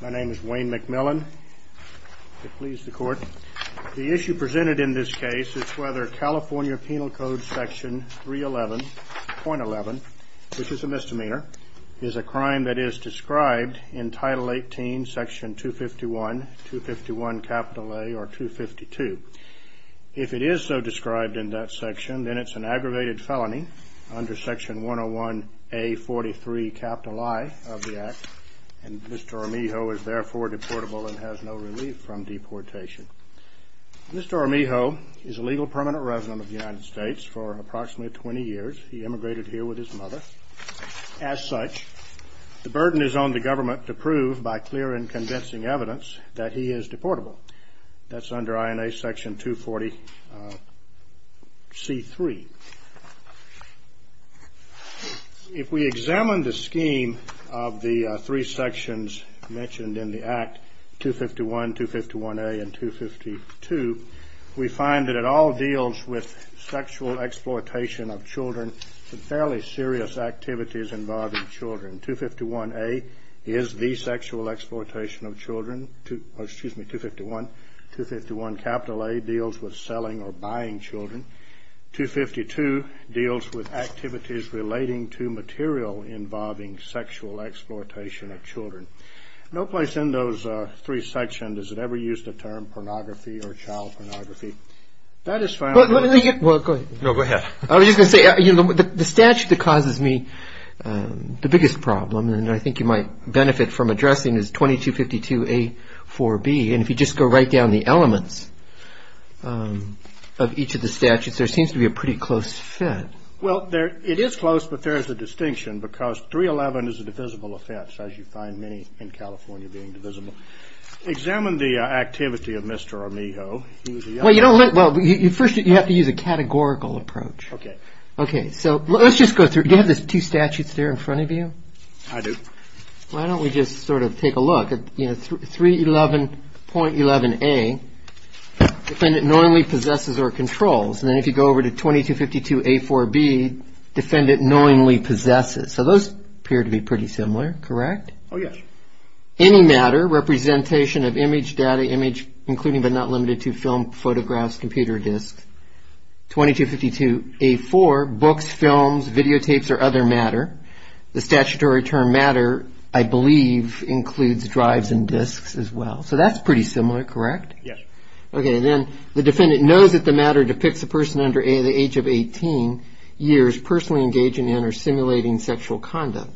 My name is Wayne McMillan. The issue presented in this case is whether California Penal Code Section 311.11, which is a misdemeanor, is a crime that is described in Title 18, Section 251, 251A, or 252. If it is so described in that section, then it's an aggravated felony under Section 101A43, capital I of the Act, and Mr. Armijo is therefore deportable and has no relief from deportation. Mr. Armijo is a legal permanent resident of the United States for approximately 20 years. He immigrated here with his mother. As such, the burden is on the government to prove, by clear and convincing evidence, that he is deportable. That's under INA Section 240C3. If we examine the scheme of the three sections mentioned in the Act, 251, 251A, and 252, we find that it all deals with sexual exploitation of children and fairly serious activities involving children. 251A deals with selling or buying children. 252 deals with activities relating to material involving sexual exploitation of children. The statute that causes me the biggest problem, and I think you might benefit from addressing, is 2252A4B, and if you just go right down the elements of each of the statutes, there seems to be a pretty close fit. Well, it is close, but there is a distinction because 311 is a divisible offense, as you find many in California being divisible. Examine the activity of Mr. Armijo. Well, first you have to use a categorical approach. Okay. Okay, so let's just go through. Do you have the two statutes there in front of you? I do. Why don't we just sort of take a look at 311.11A, defendant knowingly possesses or controls, and then if you go over to 2252A4B, defendant knowingly possesses. So those appear to be pretty similar, correct? Oh, yes. Any matter, representation of image, data, image, including but not limited to film, photographs, computer, disc. 2252A4, books, films, videotapes, or other matter. The statutory term matter, I believe, includes drives and discs as well. So that's pretty similar, correct? Yes. Okay, and then the defendant knows that the matter depicts a person under the age of 18 years personally engaging in or simulating sexual conduct.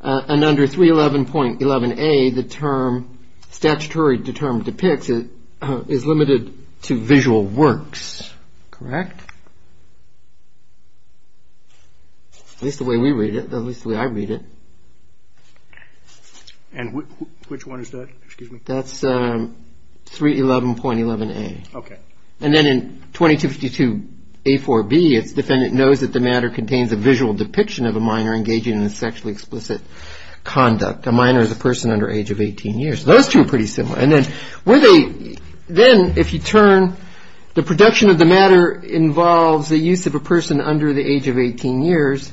And under 311.11A, the term, statutory term depicts is limited to visual works, correct? At least the way we read it, at least the way I read it. And which one is that, excuse me? That's 311.11A. Okay. And then in 2252A4B, it's defendant knows that the matter contains a visual depiction of a minor engaging in sexually explicit conduct. A minor is a person under the age of 18 years. Those two are pretty similar. And then if you turn, the production of the matter involves the use of a person under the age of 18 years.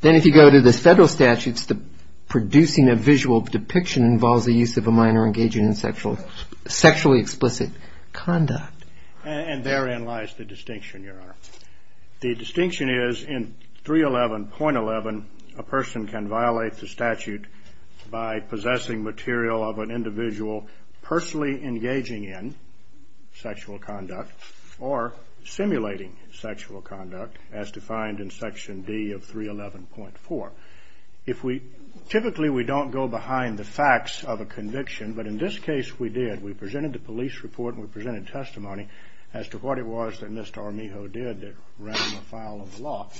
Then if you go to the federal statutes, producing a visual depiction involves the use of a minor engaging in sexually explicit conduct. And therein lies the distinction, Your Honor. The distinction is in 311.11, a person can violate the statute by possessing material of an individual personally engaging in sexual conduct or simulating sexual conduct as defined in Section D of 311.4. If we, typically we don't go behind the facts of a conviction, but in this case we did. We presented the police report and we presented testimony as to what it was that Mr. Armijo did that ran the file of the law.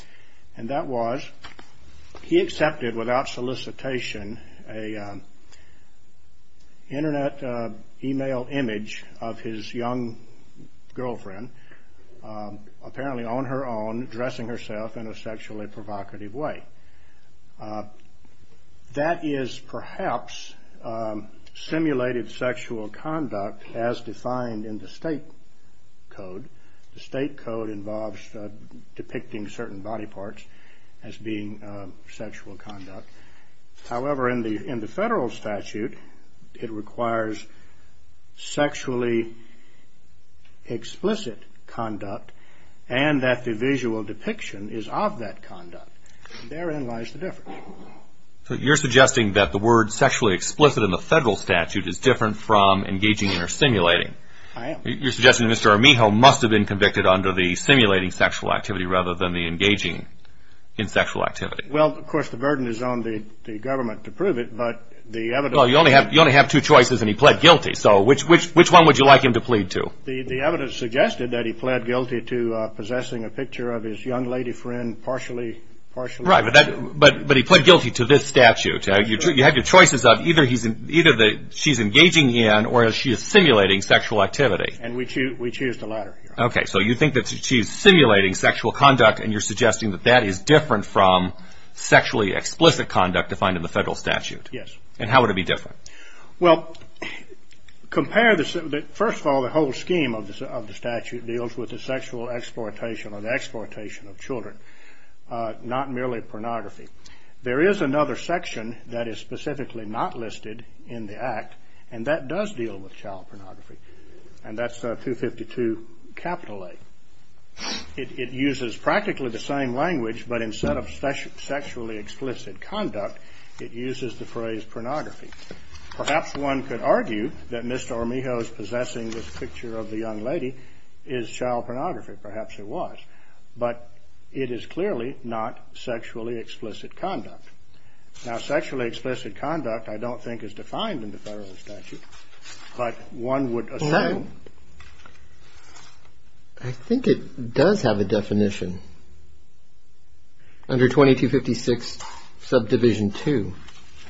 And that was, he accepted without solicitation an internet email image of his young girlfriend, apparently on her own, dressing herself in a sexually provocative way. That is perhaps simulated sexual conduct as defined in the state code. The state code involves depicting certain body parts as being sexual conduct. However, in the federal statute, it requires sexually explicit conduct and that the visual depiction is of that conduct. Therein lies the difference. So you're suggesting that the word sexually explicit in the federal statute is different from engaging in or simulating. I am. You're suggesting that Mr. Armijo must have been convicted under the simulating sexual activity rather than the engaging in sexual activity. Well, of course, the burden is on the government to prove it, but the evidence... Well, you only have two choices and he pled guilty. So which one would you like him to plead to? The evidence suggested that he pled guilty to possessing a picture of his young lady friend partially... Right, but he pled guilty to this statute. You have your choices of either she's engaging in or she is simulating sexual activity. And we choose the latter. Okay, so you think that she's simulating sexual conduct and you're suggesting that that is different from sexually explicit conduct defined in the federal statute. Yes. And how would it be different? Well, first of all, the whole scheme of the statute deals with the sexual exploitation or the exploitation of children, not merely pornography. There is another section that is specifically not listed in the Act, and that does deal with child pornography, and that's 252 A. It uses practically the same language, but instead of sexually explicit conduct, it uses the phrase pornography. Perhaps one could argue that Mr. Armijo's possessing this picture of the young lady is child pornography. Perhaps it was, but it is clearly not sexually explicit conduct. Now, sexually explicit conduct I don't think is defined in the federal statute, but one would assume... I think it does have a definition. Under 2256 subdivision 2,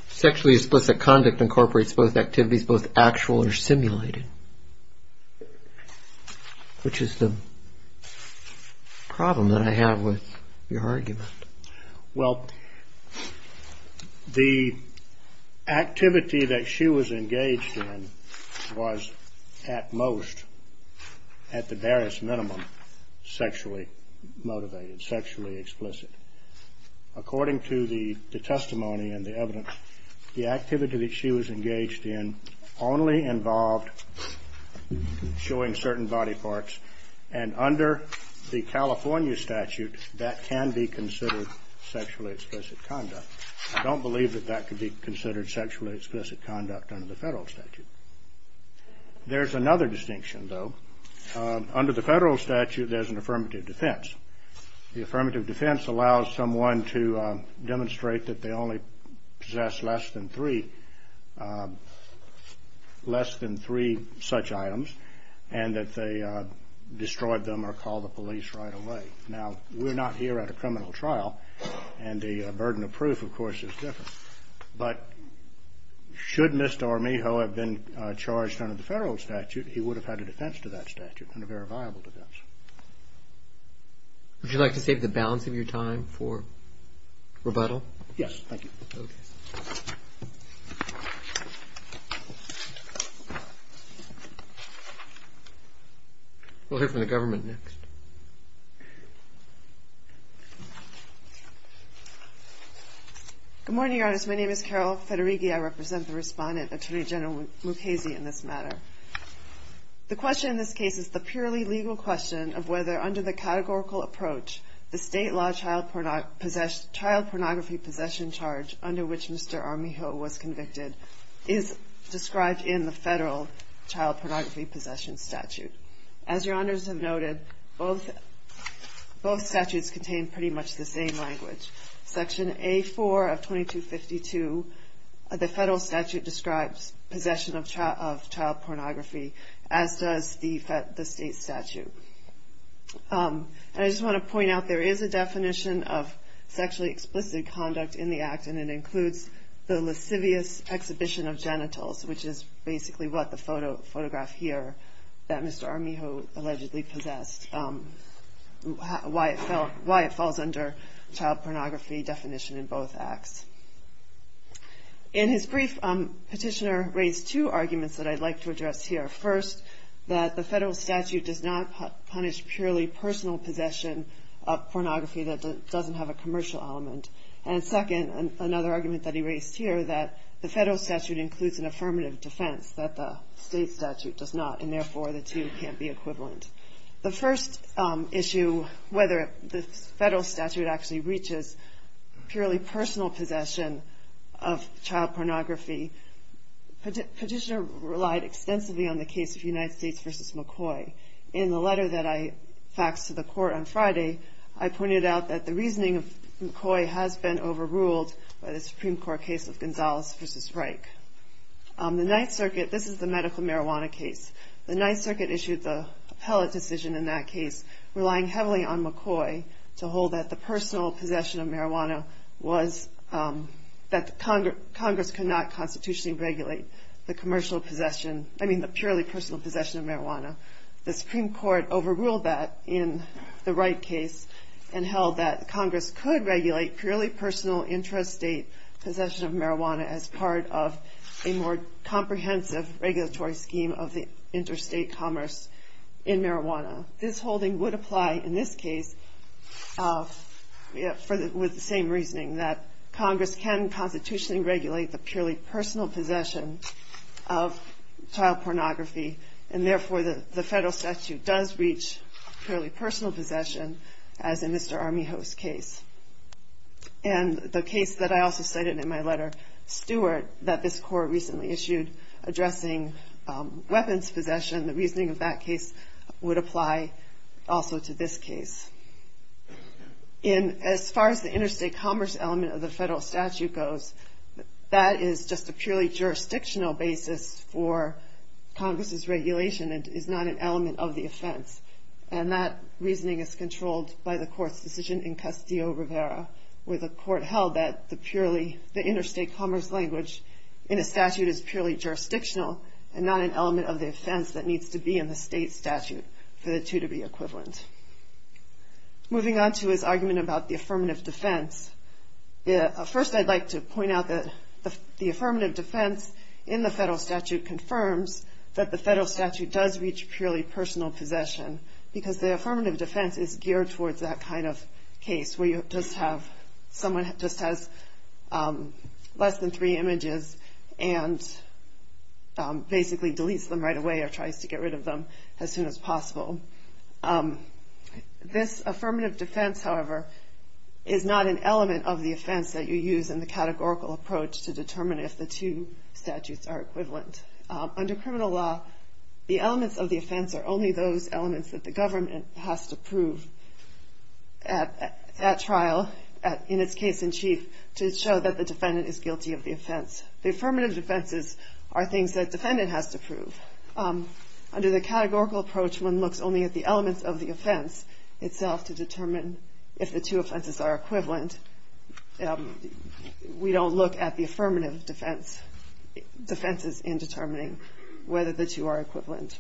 sexually explicit conduct incorporates both activities, both actual or simulated, which is the problem that I have with your argument. Well, the activity that she was engaged in was at most, at the barest minimum, sexually motivated, sexually explicit. According to the testimony and the evidence, the activity that she was engaged in only involved showing certain body parts, and under the California statute, that can be considered sexually explicit conduct. I don't believe that that could be considered sexually explicit conduct under the federal statute. There's another distinction, though. Under the federal statute, there's an affirmative defense. The affirmative defense allows someone to demonstrate that they only possess less than three such items, and that they destroyed them or called the police right away. Now, we're not here at a criminal trial, and the burden of proof, of course, is different, but should Mr. Armijo have been charged under the federal statute, he would have had a defense to that statute, and a very viable defense. Would you like to save the balance of your time for rebuttal? Yes, thank you. We'll hear from the government next. Good morning, Your Honors. My name is Carol Federighi. I represent the Respondent, Attorney General Mukasey, in this matter. The question in this case is the purely legal question of whether, under the categorical approach, the state law child pornography possession charge under which Mr. Armijo was convicted is described in the federal child pornography possession statute. As Your Honors have noted, both statutes contain pretty much the same language. Section A-4 of 2252 of the federal statute describes possession of child pornography, as does the state statute. I just want to point out there is a definition of sexually explicit conduct in the act, and it includes the lascivious exhibition of genitals, which is basically what the photograph here that Mr. Armijo allegedly possessed, why it falls under child pornography definition in both acts. In his brief, Petitioner raised two arguments that I'd like to address here. First, that the federal statute does not punish purely personal possession of pornography that doesn't have a commercial element. And second, another argument that he raised here, that the federal statute includes an affirmative defense that the state statute does not, and therefore the two can't be equivalent. The first issue, whether the federal statute actually breaches purely personal possession of child pornography, Petitioner relied extensively on the case of United States v. McCoy. In the letter that I faxed to the court on Friday, I pointed out that the reasoning of McCoy has been overruled by the Supreme Court case of Gonzalez v. Reich. The Ninth Circuit, this is the medical marijuana case, the Ninth Circuit issued the appellate decision in that case, relying heavily on McCoy to hold that the personal possession of marijuana was, that Congress could not constitutionally regulate the commercial possession, I mean the purely personal possession of marijuana. The Supreme Court overruled that in the Reich case and held that Congress could regulate purely personal intrastate possession of marijuana as part of a more comprehensive regulatory scheme of the interstate commerce in marijuana. This holding would apply in this case with the same reasoning, that Congress can constitutionally regulate the purely personal possession of child pornography, and therefore the federal statute does reach purely personal possession as in Mr. Armijo's case. And the case that I also cited in my letter, Stewart, that this court recently issued addressing weapons possession, the reasoning of that case would apply also to this case. And as far as the interstate commerce element of the federal statute goes, that is just a purely jurisdictional basis for Congress's regulation and is not an element of the offense. And that reasoning is controlled by the court's decision in Castillo-Rivera, where the court held that the purely, the interstate commerce language in a statute is purely jurisdictional and not an element of the offense that needs to be in the state statute for the two to be equivalent. Moving on to his argument about the affirmative defense, first I'd like to point out that the affirmative defense in the federal statute confirms that the federal statute does reach purely personal possession, because the affirmative defense is geared towards that kind of case, where you just have, someone just has less than three images and basically deletes them right away or tries to get rid of them as soon as possible. This affirmative defense, however, is not an element of the offense that you use in the categorical approach to determine if the two statutes are equivalent. Under criminal law, the elements of the offense are only those elements that the government has to prove at trial, in its case in chief, to show that the defendant is guilty of the offense. The affirmative defenses are things that the defendant has to prove. Under the categorical approach, one looks only at the elements of the offense itself to determine if the two offenses are equivalent. We don't look at the affirmative defenses in determining whether the two are equivalent.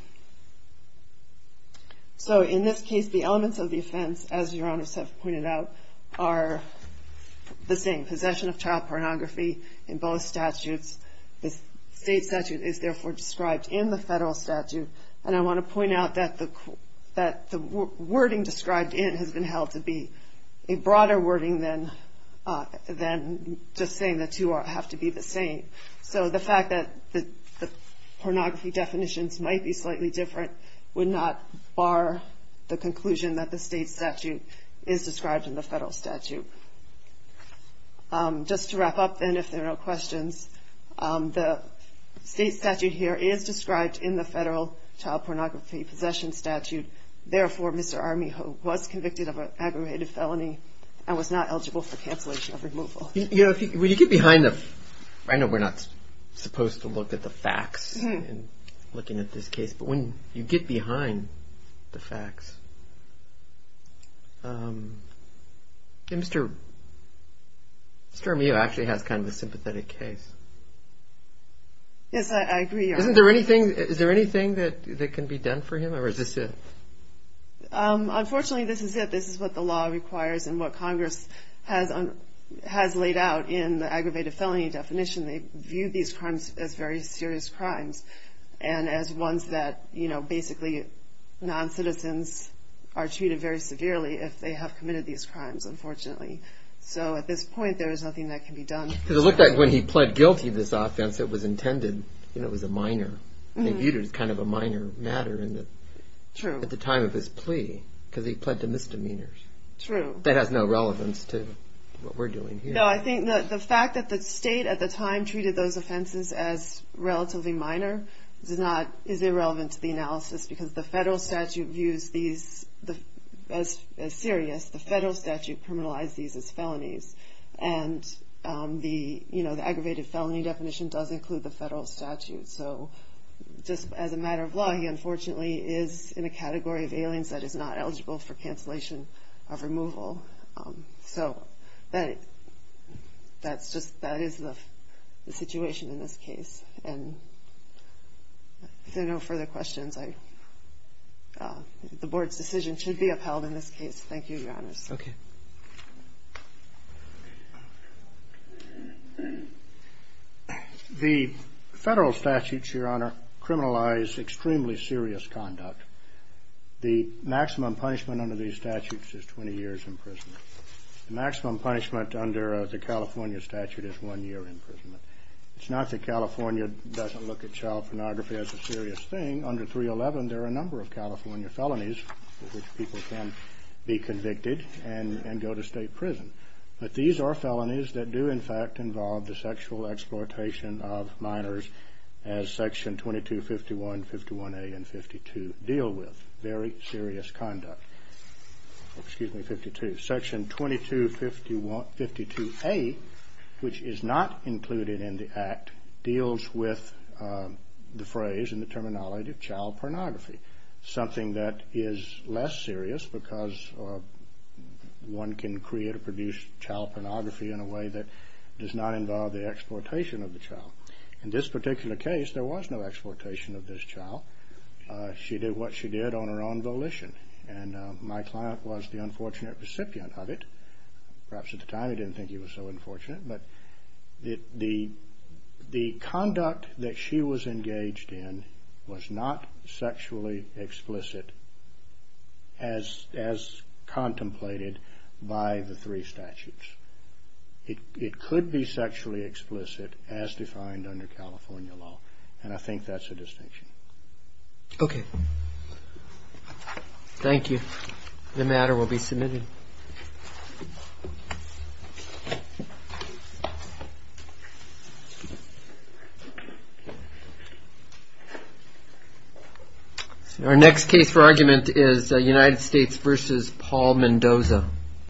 So in this case, the elements of the offense, as Your Honors have pointed out, are the same, possession of child pornography in both statutes. The state statute is therefore described in the federal statute, and I want to point out that the wording described in has been held to be a broader wording than just saying the two have to be the same. So the fact that the pornography definitions might be slightly different would not bar the conclusion that the state statute is described in the federal statute. Just to wrap up, then, if there are no questions, the state statute here is described in the federal child pornography possession statute. Therefore, Mr. Armijo was convicted of an aggravated felony and was not eligible for cancellation of removal. When you get behind the facts, I know we're not supposed to look at the facts in looking at this case, but when you get behind the facts, Mr. Armijo actually has kind of a sympathetic case. Yes, I agree. Is there anything that can be done for him, or is this it? Unfortunately, this is it. This is what the law requires and what Congress has laid out in the aggravated felony definition. They view these crimes as very serious crimes and as ones that basically non-citizens are treated very severely if they have committed these crimes, unfortunately. So at this point, there is nothing that can be done. It looked like when he pled guilty to this offense, it was intended, and it was a minor. They viewed it as kind of a minor matter at the time of his plea because he pled to misdemeanors. True. That has no relevance to what we're doing here. No, I think the fact that the state at the time treated those offenses as relatively minor is irrelevant to the analysis because the federal statute views these as serious. The federal statute criminalized these as felonies, and the aggravated felony definition does include the federal statute. So just as a matter of law, he unfortunately is in a category of aliens that is not eligible for cancellation of removal. So that is the situation in this case. If there are no further questions, the Board's decision should be upheld in this case. Thank you, Your Honors. Okay. The federal statutes, Your Honor, criminalize extremely serious conduct. The maximum punishment under these statutes is 20 years in prison. The maximum punishment under the California statute is one year in prison. It's not that California doesn't look at child pornography as a serious thing. Under 311, there are a number of California felonies for which people can be convicted and go to state prison. But these are felonies that do, in fact, involve the sexual exploitation of minors as Section 2251, 51A, and 52 deal with, very serious conduct. Excuse me, 52. Section 2252A, which is not included in the Act, deals with the phrase and the terminology of child pornography, something that is less serious because one can create or produce child pornography in a way that does not involve the exploitation of the child. In this particular case, there was no exploitation of this child. She did what she did on her own volition, and my client was the unfortunate recipient of it. Perhaps at the time he didn't think he was so unfortunate, but the conduct that she was engaged in was not sexually explicit as contemplated by the three statutes. It could be sexually explicit as defined under California law, and I think that's a distinction. Okay. Thank you. The matter will be submitted. Our next case for argument is United States v. Paul Mendoza.